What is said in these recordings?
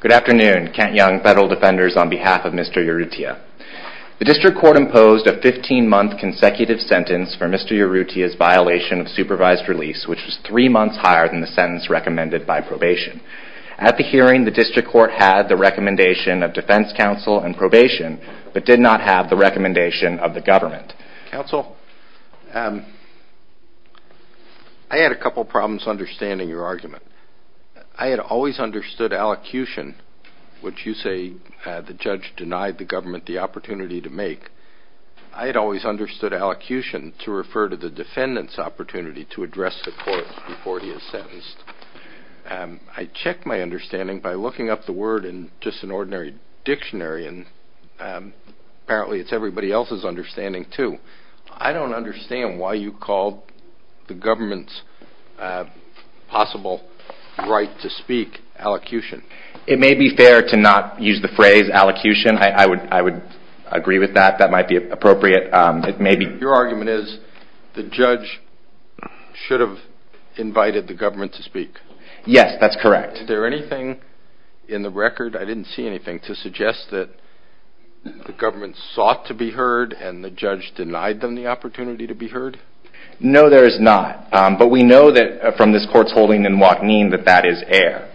Good afternoon. Kent Young, Federal Defenders, on behalf of Mr. Urrutia. The District Court imposed a 15-month consecutive sentence for Mr. Urrutia's violation of supervised release, which was three months higher than the sentence recommended by probation. At the hearing, the District Court had the recommendation of Defense Counsel and Probation, but did not have the recommendation of the government. Counsel, I had a couple problems understanding your argument. I had always understood allocution, which you say the judge denied the government the opportunity to make. I had always understood allocution to refer to the defendant's opportunity to address the court before he is sentenced. I checked my understanding by looking up the word in just an ordinary dictionary, and apparently it's everybody else's understanding, too. I don't understand why you called the government's possible right to speak allocution. It may be fair to not use the phrase allocution. I would agree with that. That might be appropriate. Your argument is, the judge should have invited the government to speak. Yes, that's correct. Is there anything in the record, I didn't see anything, to suggest that the government sought to be heard and the judge denied them the opportunity to be heard? No, there is not, but we know that from this court's holding in Waknin that that is air.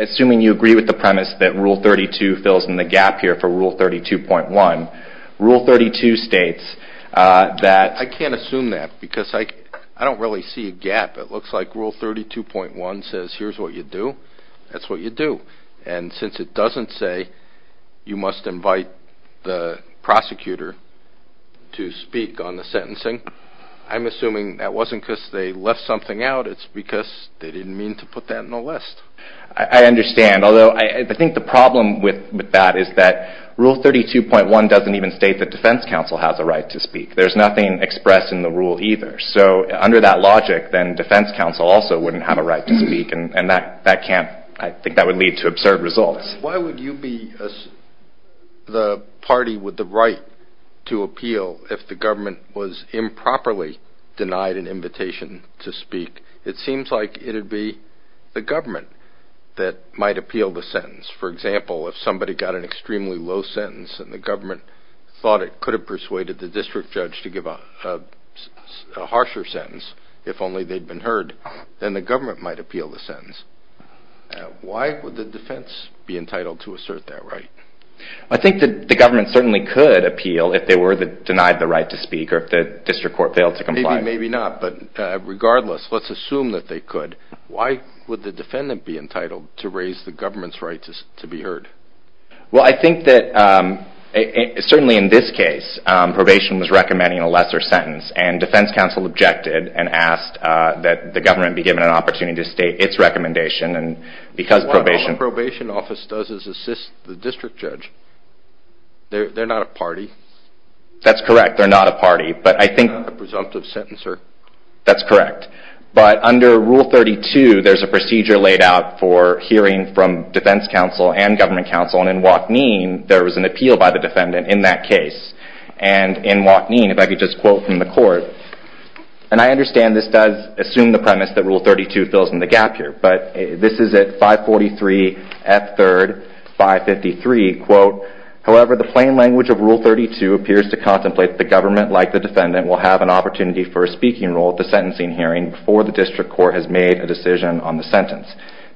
Assuming you agree with the premise that Rule 32 fills in the gap here for Rule 32.1, Rule 32 states that... I can't assume that because I don't really see a gap. It looks like Rule 32.1 says here's what you do, that's what you do. And since it doesn't say you must invite the prosecutor to speak on the sentencing, I'm assuming that wasn't because they left something out, it's because they didn't mean to put that on the list. I understand, although I think the problem with that is that Rule 32.1 doesn't even state that defense counsel has a right to speak. There's nothing expressed in the rule either. So under that logic, then defense counsel also wouldn't have a right to speak and I think that would lead to absurd results. Why would you be the party with the right to appeal if the government was improperly denied an invitation to speak? It seems like it would be the government that might appeal the sentence. For example, if somebody got an extremely low sentence and the government thought it could have persuaded the district judge to give a harsher sentence, if only they'd been heard, then the government might appeal the sentence. Why would the defense be entitled to assert that right? I think that the government certainly could appeal if they were denied the right to speak or if the district court failed to comply. Maybe not, but regardless, let's assume that they could. Why would the defendant be entitled to raise the government's right to be heard? Well, I think that certainly in this case, probation was recommending a lesser sentence and defense counsel objected and asked that the government be given an opportunity to state its recommendation. Well, what a probation office does is assist the district judge. They're not a party. That's correct, they're not a party. They're not a presumptive sentencer. That's correct, but under Rule 32, there's a procedure laid out for hearing from defense counsel and government counsel, and in Wachneen, there was an appeal by the defendant in that case. In Wachneen, if I could just quote from the court, and I understand this does assume the premise that Rule 32 fills in the gap here, but this is at 543 F3rd 553, quote, however, the plain language of Rule 32 appears to contemplate the government, like the defendant, will have an opportunity for a speaking role at the sentencing hearing before the district court has made a decision on the sentence.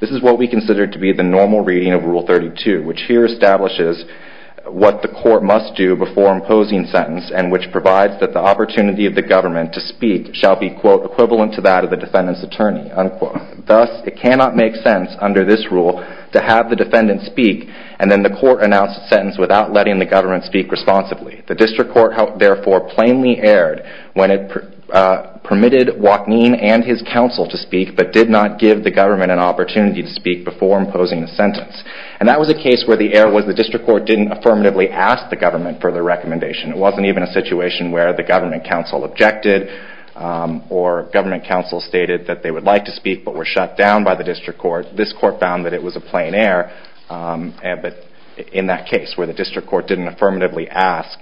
This is what we consider to be the normal reading of Rule 32, which here establishes what the court must do before imposing sentence and which provides that the opportunity of the government to speak shall be, quote, equivalent to that of the defendant's attorney, unquote. Thus, it cannot make sense under this rule to have the defendant speak and then the court announce a sentence without letting the government speak responsibly. The district court, therefore, plainly erred when it permitted Wachneen and his counsel to speak, but did not give the government an opportunity to speak before imposing the sentence. And that was a case where the error was the district court didn't affirmatively ask the government for the recommendation. It wasn't even a situation where the government counsel objected or government counsel stated that they would like to speak but were shut down by the district court. This court found that it was a plain error, but in that case where the district court didn't affirmatively ask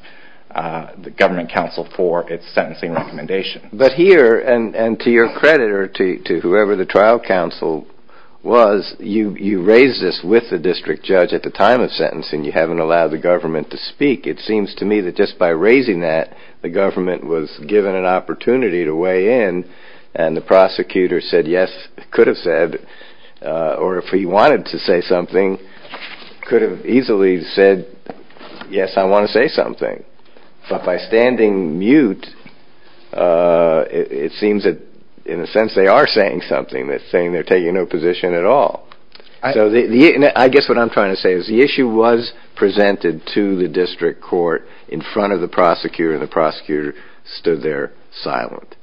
the government counsel for its sentencing recommendation. But here, and to your credit or to whoever the trial counsel was, you raised this with the district judge at the time of sentencing. You haven't allowed the government to speak. It seems to me that just by raising that, the government was given an opportunity to weigh in and the prosecutor said yes, could have said, or if he wanted to say something, could have easily said, yes, I want to say something. But by standing mute, it seems that in a sense they are saying something. They're saying they're taking no position at all. I guess what I'm trying to say is the issue was presented to the district court in front of the prosecutor and the prosecutor stood there silent.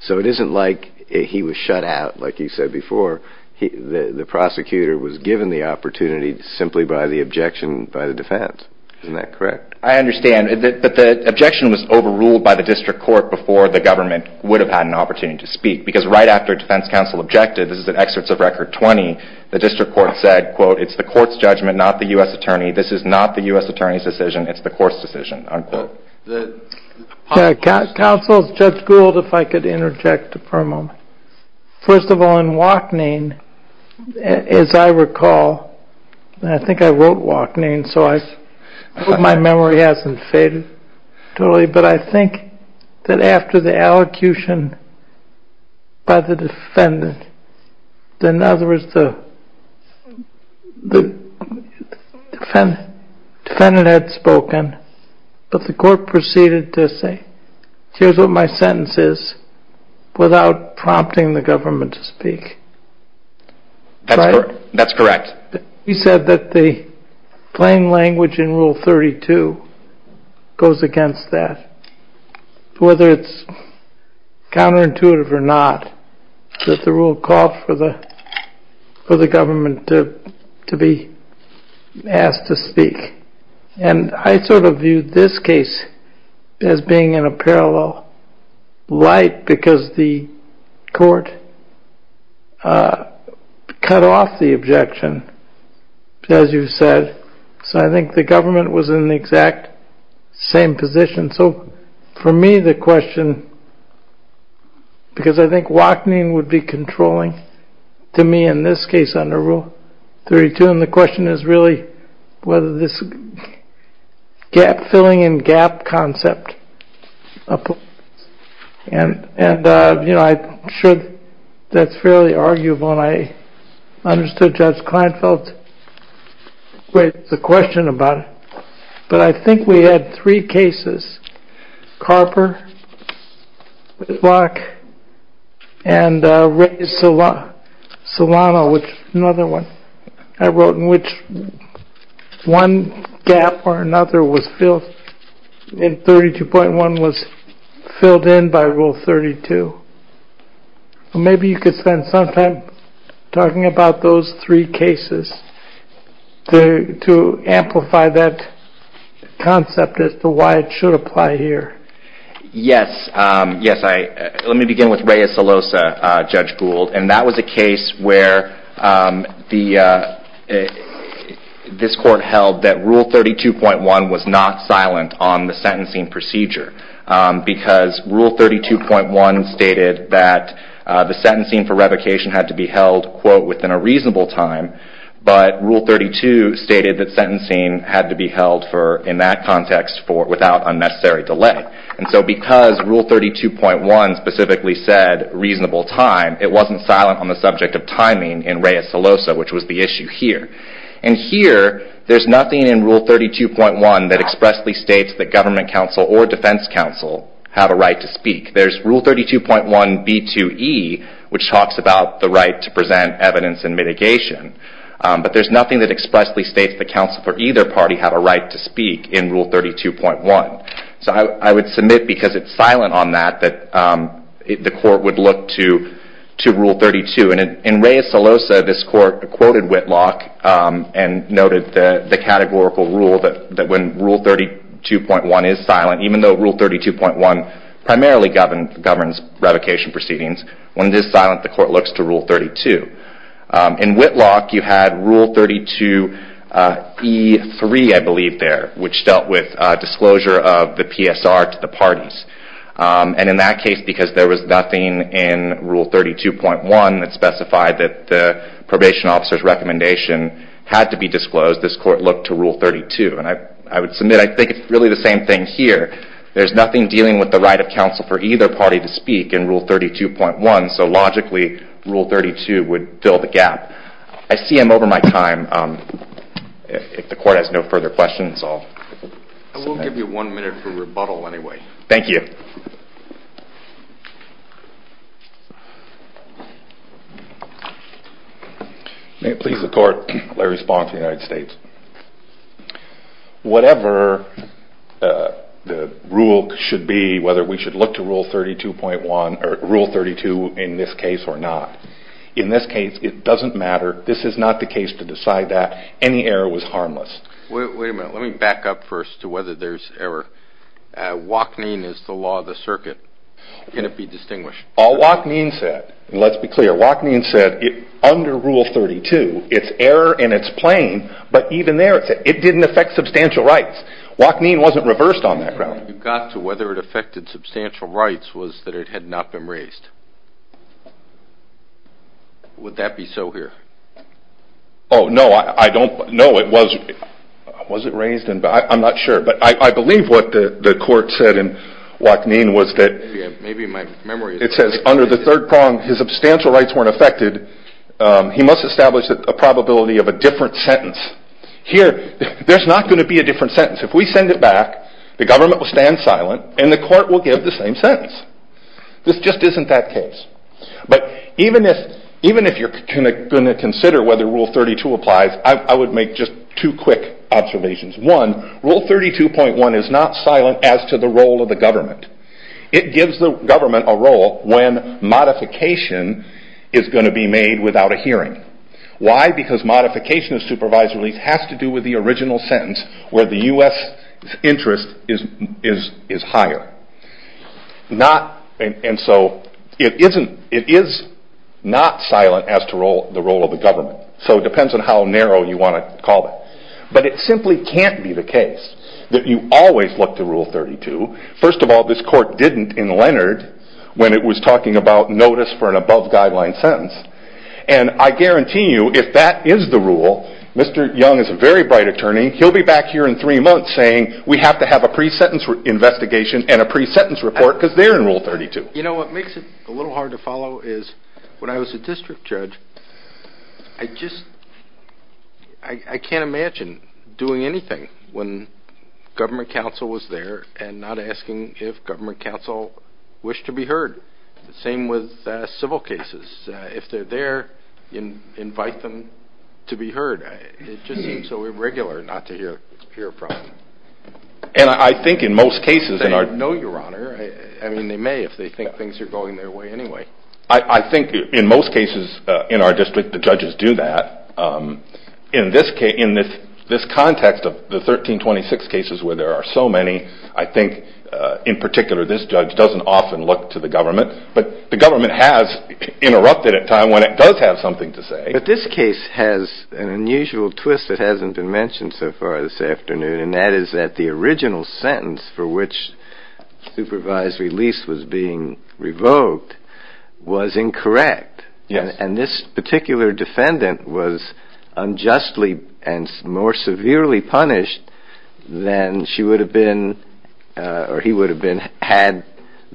So it isn't like he was shut out, like you said before. The prosecutor was given the opportunity simply by the objection by the defense. Isn't that correct? I understand. But the objection was overruled by the district court before the government would have had an opportunity to speak. Because right after defense counsel objected, this is at excerpts of record 20, the district court said, quote, it's the court's judgment, not the U.S. attorney. This is not the U.S. attorney's decision. It's the court's decision. Counsel, Judge Gould, if I could interject for a moment. First of all, in Wachning, as I recall, and I think I wrote Wachning, so I hope my memory hasn't faded totally, but I think that after the allocution by the defendant, in other words, the defendant had spoken, but the court proceeded to say, here's what my sentence is, without prompting the government to speak. That's correct. We said that the plain language in Rule 32 goes against that. Whether it's counterintuitive or not, that the rule called for the government to be asked to speak. And I sort of viewed this case as being in a parallel light because the court cut off the objection, as you said. So I think the government was in the exact same position. So for me, the question, because I think Wachning would be controlling to me in this case under Rule 32, and the question is really whether this gap-filling and gap concept applies. And I'm sure that's fairly arguable, and I understood Judge Kleinfeld's question about it. But I think we had three cases, Carper, Locke, and Solano, which is another one I wrote, in which one gap or another in Rule 32.1 was filled in by Rule 32. Maybe you could spend some time talking about those three cases to amplify that concept as to why it should apply here. Yes. Let me begin with Reyes-Salosa, Judge Gould. And that was a case where this court held that Rule 32.1 was not silent on the sentencing procedure because Rule 32.1 stated that the sentencing for revocation had to be held, quote, within a reasonable time. But Rule 32 stated that sentencing had to be held in that context without unnecessary delay. And so because Rule 32.1 specifically said reasonable time, it wasn't silent on the subject of timing in Reyes-Salosa, which was the issue here. And here, there's nothing in Rule 32.1 that expressly states that government counsel or defense counsel have a right to speak. There's Rule 32.1b2e, which talks about the right to present evidence in mitigation. But there's nothing that expressly states that counsel for either party have a right to speak in Rule 32.1. So I would submit, because it's silent on that, that the court would look to Rule 32. And in Reyes-Salosa, this court quoted Whitlock and noted the categorical rule that when Rule 32.1 is silent, even though Rule 32.1 primarily governs revocation proceedings, when it is silent, the court looks to Rule 32. In Whitlock, you had Rule 32e3, I believe, there, which dealt with disclosure of the PSR to the parties. And in that case, because there was nothing in Rule 32.1 that specified that the probation officer's recommendation had to be disclosed, this court looked to Rule 32. And I would submit, I think it's really the same thing here. There's nothing dealing with the right of counsel for either party to speak in Rule 32.1, so logically, Rule 32 would fill the gap. I see I'm over my time. If the court has no further questions, I'll submit. I'll give you one minute for rebuttal anyway. Thank you. May it please the court, Larry Spohn of the United States. Whatever the rule should be, whether we should look to Rule 32.1 or Rule 32 in this case or not, in this case, it doesn't matter. This is not the case to decide that. Any error was harmless. Wait a minute. Let me back up first to whether there's error. Wachneen is the law of the circuit. Can it be distinguished? All Wachneen said, and let's be clear, Wachneen said under Rule 32, it's error and it's plain, but even there, it didn't affect substantial rights. Wachneen wasn't reversed on that ground. You got to whether it affected substantial rights was that it had not been raised. Would that be so here? No, it wasn't raised. I'm not sure, but I believe what the court said in Wachneen was that it says under the third prong, his substantial rights weren't affected. He must establish a probability of a different sentence. Here, there's not going to be a different sentence. If we send it back, the government will stand silent and the court will give the same sentence. This just isn't that case. Even if you're going to consider whether Rule 32 applies, I would make just two quick observations. One, Rule 32.1 is not silent as to the role of the government. It gives the government a role when modification is going to be made without a hearing. Why? Because modification of supervised release has to do with the original sentence where the U.S. interest is higher. It is not silent as to the role of the government. It depends on how narrow you want to call it. It simply can't be the case that you always look to Rule 32. First of all, this court didn't in Leonard when it was talking about notice for an above guideline sentence. I guarantee you if that is the rule, Mr. Young is a very bright attorney. He'll be back here in three months saying we have to have a pre-sentence investigation and a pre-sentence report because they're in Rule 32. You know what makes it a little hard to follow is when I was a district judge, I can't imagine doing anything when government counsel was there and not asking if government counsel wished to be heard. The same with civil cases. If they're there, invite them to be heard. It just seems so irregular not to hear from them. They know your honor. They may if they think things are going their way anyway. I think in most cases in our district, the judges do that. In this context of the 1326 cases where there are so many, I think in particular this judge doesn't often look to the government, but the government has interrupted at times when it does have something to say. But this case has an unusual twist that hasn't been mentioned so far this afternoon, and that is that the original sentence for which Supervisory Lease was being revoked was incorrect. Yes. And this particular defendant was unjustly and more severely punished than she would have been or he would have been had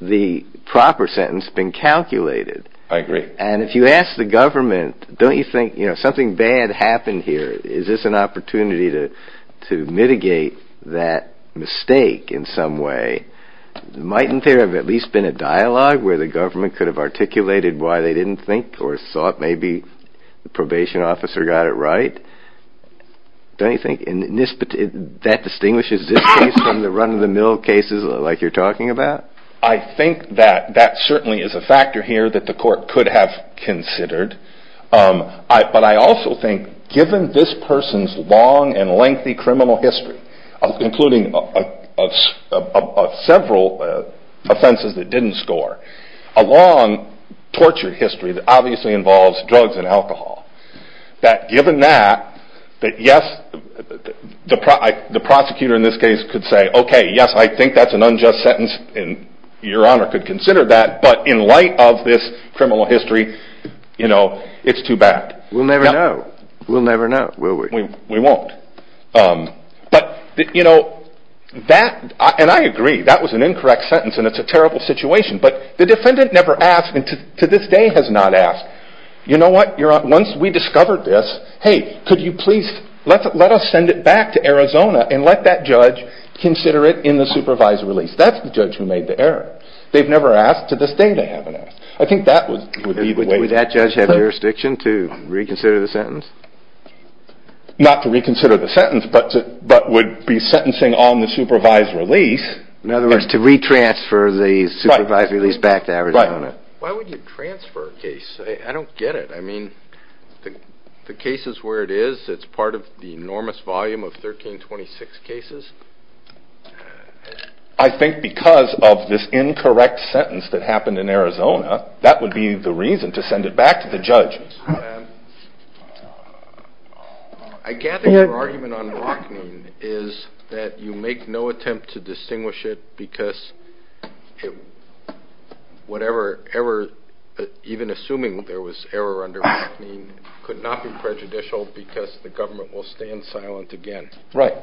the proper sentence been calculated. I agree. And if you ask the government, don't you think, you know, something bad happened here? Is this an opportunity to mitigate that mistake in some way? Mightn't there have at least been a dialogue where the government could have articulated why they didn't think or thought maybe the probation officer got it right? Don't you think that distinguishes this case from the run-of-the-mill cases like you're talking about? I think that that certainly is a factor here that the court could have considered, but I also think given this person's long and lengthy criminal history, including several offenses that didn't score, a long tortured history that obviously involves drugs and alcohol, that given that, that yes, the prosecutor in this case could say, okay, yes, I think that's an unjust sentence and your honor could consider that, but in light of this criminal history, you know, it's too bad. We'll never know. We'll never know. Will we? We won't. But, you know, that, and I agree, that was an incorrect sentence and it's a terrible situation, but the defendant never asked and to this day has not asked, you know what, once we discovered this, hey, could you please let us send it back to Arizona and let that be a supervised release? That's the judge who made the error. They've never asked. To this day, they haven't asked. I think that would be the way. Would that judge have jurisdiction to reconsider the sentence? Not to reconsider the sentence, but would be sentencing on the supervised release. In other words, to re-transfer the supervised release back to Arizona. Why would you transfer a case? I don't get it. I mean, the cases where it is, it's part of the enormous volume of 1326 cases. I think because of this incorrect sentence that happened in Arizona, that would be the reason to send it back to the judge. I gather your argument on Rockne is that you make no attempt to distinguish it because whatever error, even assuming there was error under Rockne, could not be prejudicial because the government will stand silent again. Right.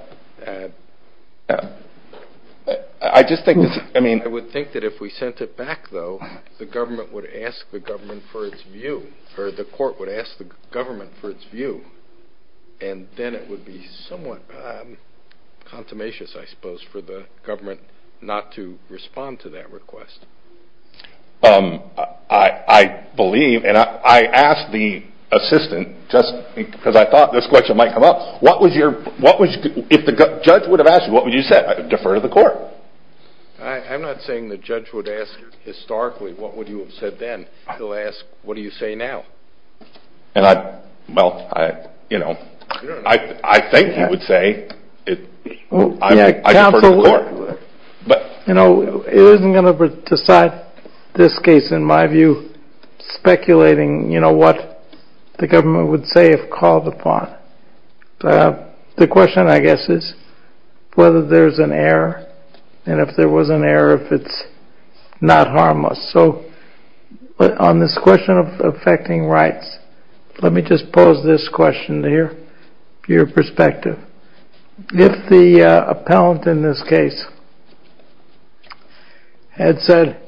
I just think, I mean, I would think that if we sent it back, though, the government would ask the government for its view, or the court would ask the government for its view, and then it would be somewhat consummations, I suppose, for the government not to respond to that request. I believe, and I asked the assistant just because I thought this question might come up, if the judge would have asked you, what would you have said? Defer to the court. I'm not saying the judge would ask historically, what would you have said then? He'll ask, what do you say now? Well, I think he would say, I defer to the court. You know, it isn't going to decide this case, in my view, speculating what the government would say if called upon. The question, I guess, is whether there's an error, and if there was an error, if it's not harmless. So, on this question of affecting rights, let me just pose this question to hear your perspective. If the appellant in this case had said,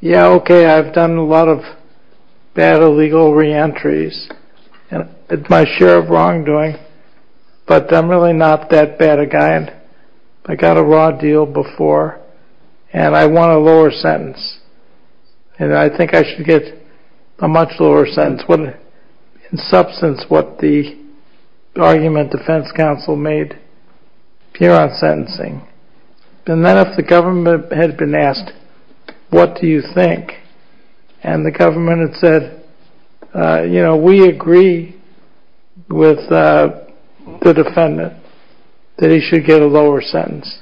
yeah, OK, I've done a lot of bad illegal reentries, and it's my share of wrongdoing, but I'm really not that bad a guy, and I got a raw deal before, and I want a lower sentence, and I think I should get a much lower sentence, in substance, what the argument defense counsel made here on sentencing. And then if the government had been asked, what do you think? And the government had said, you know, we agree with the defendant that he should get a lower sentence.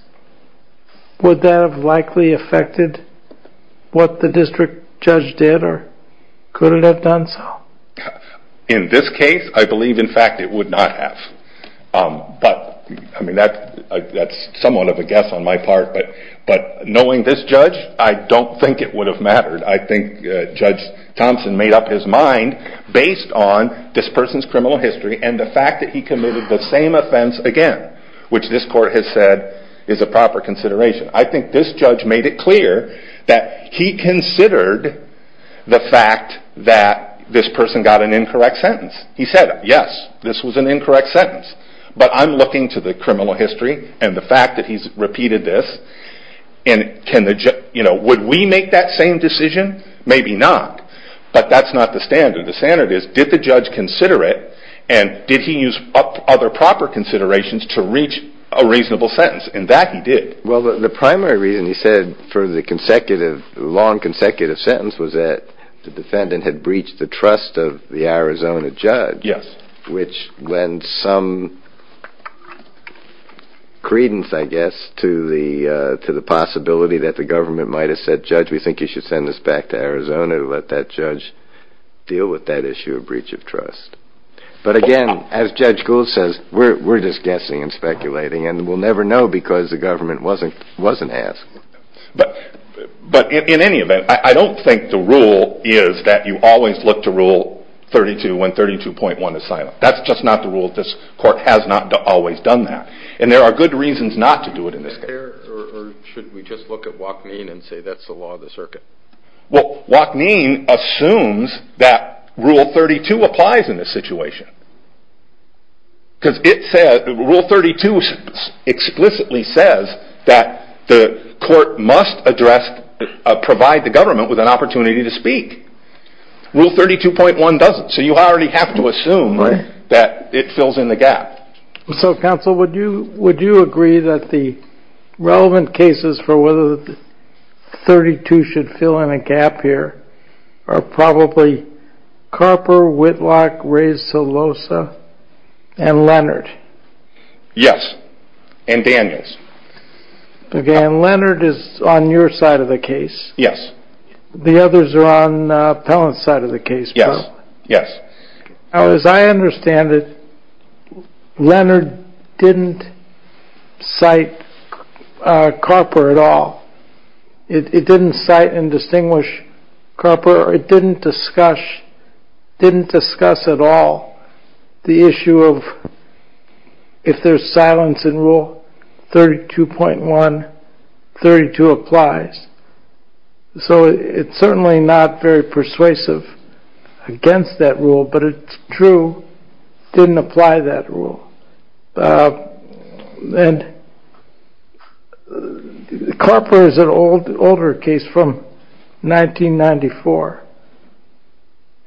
Would that have likely affected what the district judge did, or could it have done so? In this case, I believe, in fact, it would not have. But, I mean, that's somewhat of a guess on my part, but knowing this judge, I don't think it would have mattered. I think Judge Thompson made up his mind based on this person's criminal history and the court has said is a proper consideration. I think this judge made it clear that he considered the fact that this person got an incorrect sentence. He said, yes, this was an incorrect sentence, but I'm looking to the criminal history and the fact that he's repeated this, and would we make that same decision? Maybe not, but that's not the standard. The standard is, did the judge consider it, and did he use other proper considerations to reach a reasonable sentence? And that he did. Well, the primary reason he said for the long consecutive sentence was that the defendant had breached the trust of the Arizona judge, which lends some credence, I guess, to the possibility that the government might have said, judge, we think you should send this back to Arizona to let that judge deal with that issue of breach of trust. But again, as Judge Gould says, we're just guessing and speculating and we'll never know because the government wasn't asked. But in any event, I don't think the rule is that you always look to rule 32 when 32.1 is silent. That's just not the rule. This court has not always done that. And there are good reasons not to do it in this case. Or should we just look at Wachneen and say that's the law of the circuit? Well, Wachneen assumes that rule 32 applies in this situation. Because rule 32 explicitly says that the court must provide the government with an opportunity to speak. Rule 32.1 doesn't. So you already have to assume that it fills in the gap. So counsel, would you agree that the relevant cases for whether 32 should fill in a gap here are probably Carper, Whitlock, Reyes, Silosa, and Leonard? Yes. And Daniels. And Leonard is on your side of the case. Yes. The others are on Pellant's side of the case. Yes. Yes. Now, as I understand it, Leonard didn't cite Carper at all. It didn't cite and distinguish Carper. It didn't discuss at all the issue of if there's silence in rule 32.1, 32 applies. So it's certainly not very persuasive against that rule. But it's true, didn't apply that rule. And Carper is an older case from 1994.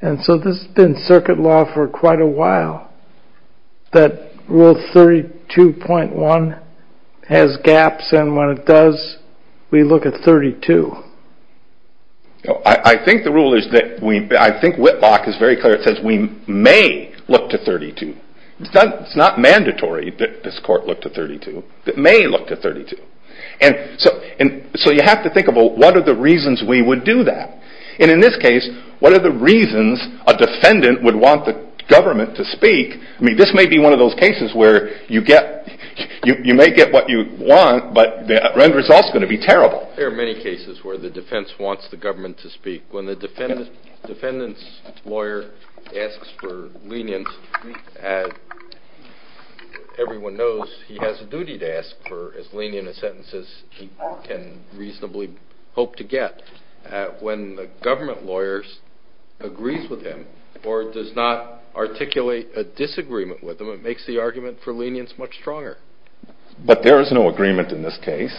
And so this has been circuit law for quite a while, that rule 32.1 has gaps. And when it does, we look at 32. I think the rule is that, I think Whitlock is very clear, it says we may look to 32. It's not mandatory that this court look to 32. It may look to 32. And so you have to think about what are the reasons we would do that. And in this case, what are the reasons a defendant would want the government to speak? I mean, this may be one of those cases where you may get what you want, but the end result is going to be terrible. There are many cases where the defense wants the government to speak. When the defendant's lawyer asks for lenience, everyone knows he has a duty to ask for as lenient a sentence as he can reasonably hope to get. When the government lawyers agrees with him or does not articulate a disagreement with him, it makes the argument for lenience much stronger. But there is no agreement in this case.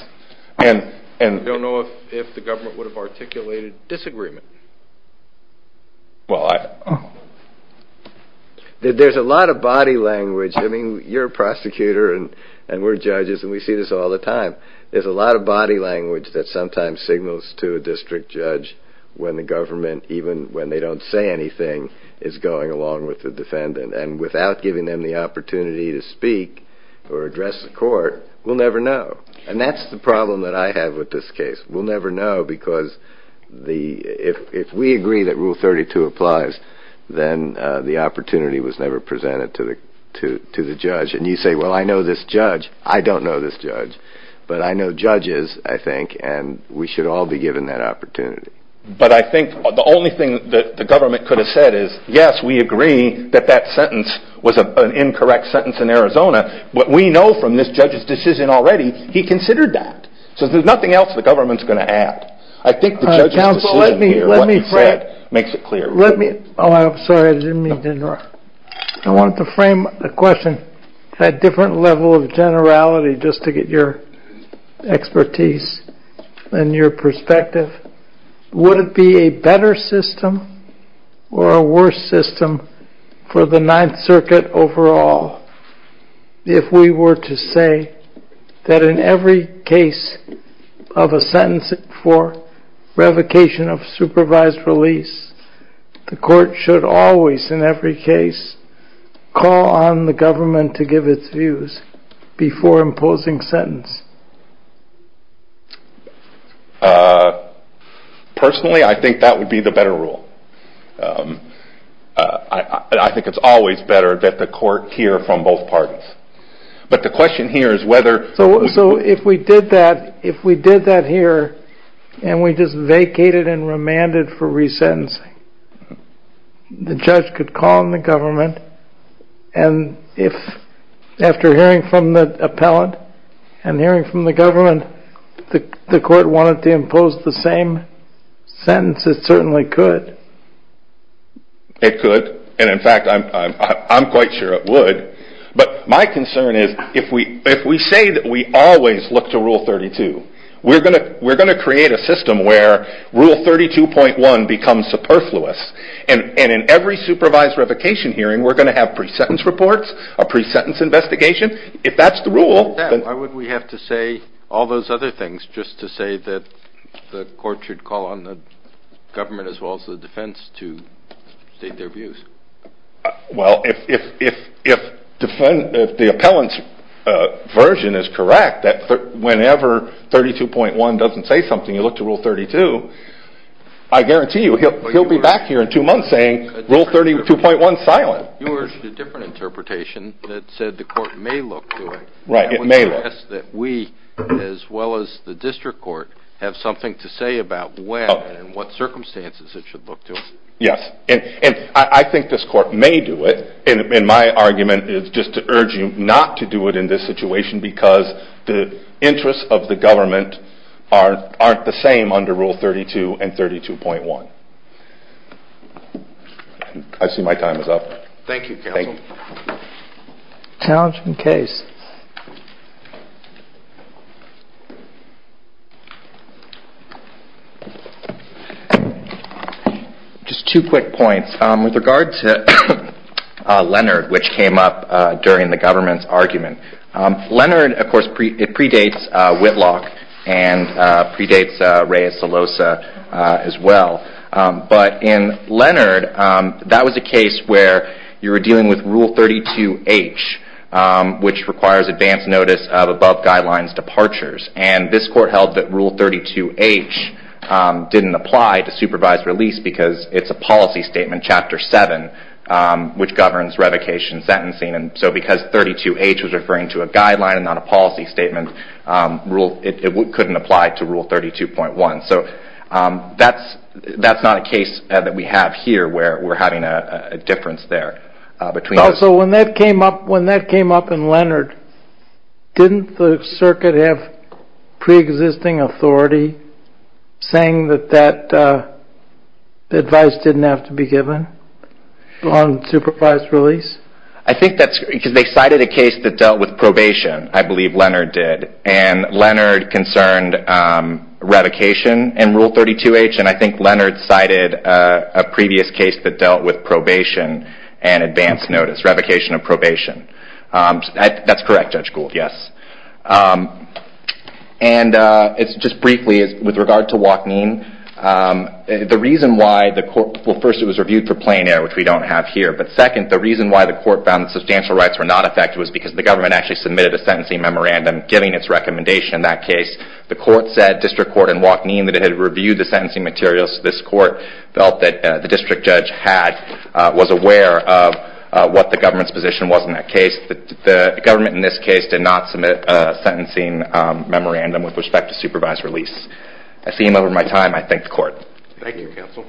And we don't know if the government would have articulated disagreement. Well, there's a lot of body language. I mean, you're a prosecutor and we're judges and we see this all the time. There's a lot of body language that sometimes signals to a district judge when the government, even when they don't say anything, is going along with the defendant. And without giving them the opportunity to speak or address the court, we'll never know. And that's the problem that I have with this case. We'll never know because if we agree that Rule 32 applies, then the opportunity was never presented to the judge. And you say, well, I know this judge. I don't know this judge. But I know judges, I think, and we should all be given that opportunity. But I think the only thing that the government could have said is, yes, we agree that that sentence was an incorrect sentence in Arizona. But we know from this judge's decision already, he considered that. So there's nothing else the government's going to add. I think the judge's decision here, what he said, makes it clear. Sorry, I didn't mean to interrupt. I wanted to frame the question at a different level of generality, just to get your expertise and your perspective. Would it be a better system or a worse system for the Ninth Circuit overall if we were to say that in every case of a sentence for revocation of supervised release, the court should always, in every case, call on the government to give its views before imposing sentence? Personally, I think that would be the better rule. I think it's always better that the court hear from both parties. So if we did that here, and we just vacated and remanded for resentencing, the judge could call on the government, and if after hearing from the appellant and hearing from the government, the court wanted to impose the same sentence, it certainly could. It could, and in fact, I'm quite sure it would. But my concern is, if we say that we always look to Rule 32, we're going to create a system where Rule 32.1 becomes superfluous, and in every supervised revocation hearing, we're going to have pre-sentence reports, a pre-sentence investigation. If that's the rule... Why would we have to say all those other things just to say that the court should call on the government as well as the defense to state their views? Well, if the appellant's version is correct, that whenever 32.1 doesn't say something, you look to Rule 32, I guarantee you he'll be back here in two months saying, Rule 32.1, silent. You urged a different interpretation that said the court may look to it. Right, it may look. That would suggest that we, as well as the district court, have something to say about when and what circumstances it should look to. Yes, and I think this court may do it, and my argument is just to urge you not to do it in this situation because the interests of the government aren't the same under Rule 32 and 32.1. I see my time is up. Thank you, counsel. Challenging case. Just two quick points. With regard to Leonard, which came up during the government's argument, Leonard, of course, predates Whitlock and predates Reyes-DeLosa as well. But in Leonard, that was a case where you were dealing with Rule 32H, which requires advance notice of above guidelines departures. And this court held that Rule 32H didn't apply to supervised release because it's a policy statement, Chapter 7, which governs revocation sentencing. And so because 32H was referring to a guideline and not a policy statement, it couldn't apply to Rule 32.1. So that's not a case that we have here where we're having a difference there. So when that came up in Leonard, didn't the circuit have preexisting authority saying that that advice didn't have to be given on supervised release? I think that's because they cited a case that dealt with probation. I believe Leonard did. And Leonard concerned revocation in Rule 32H. And I think Leonard cited a previous case that dealt with probation and advance notice, revocation of probation. That's correct, Judge Gould, yes. And just briefly, with regard to Wachneen, the reason why the court – well, first, it was reviewed for plain error, which we don't have here. But second, the reason why the court found substantial rights were not affected was because the government actually submitted a sentencing memorandum, giving its recommendation in that case. The court said, District Court in Wachneen, that it had reviewed the sentencing materials. This court felt that the district judge was aware of what the government's position was in that case. The government in this case did not submit a sentencing memorandum with respect to supervised release. I seem over my time. I thank the court. Thank you, counsel.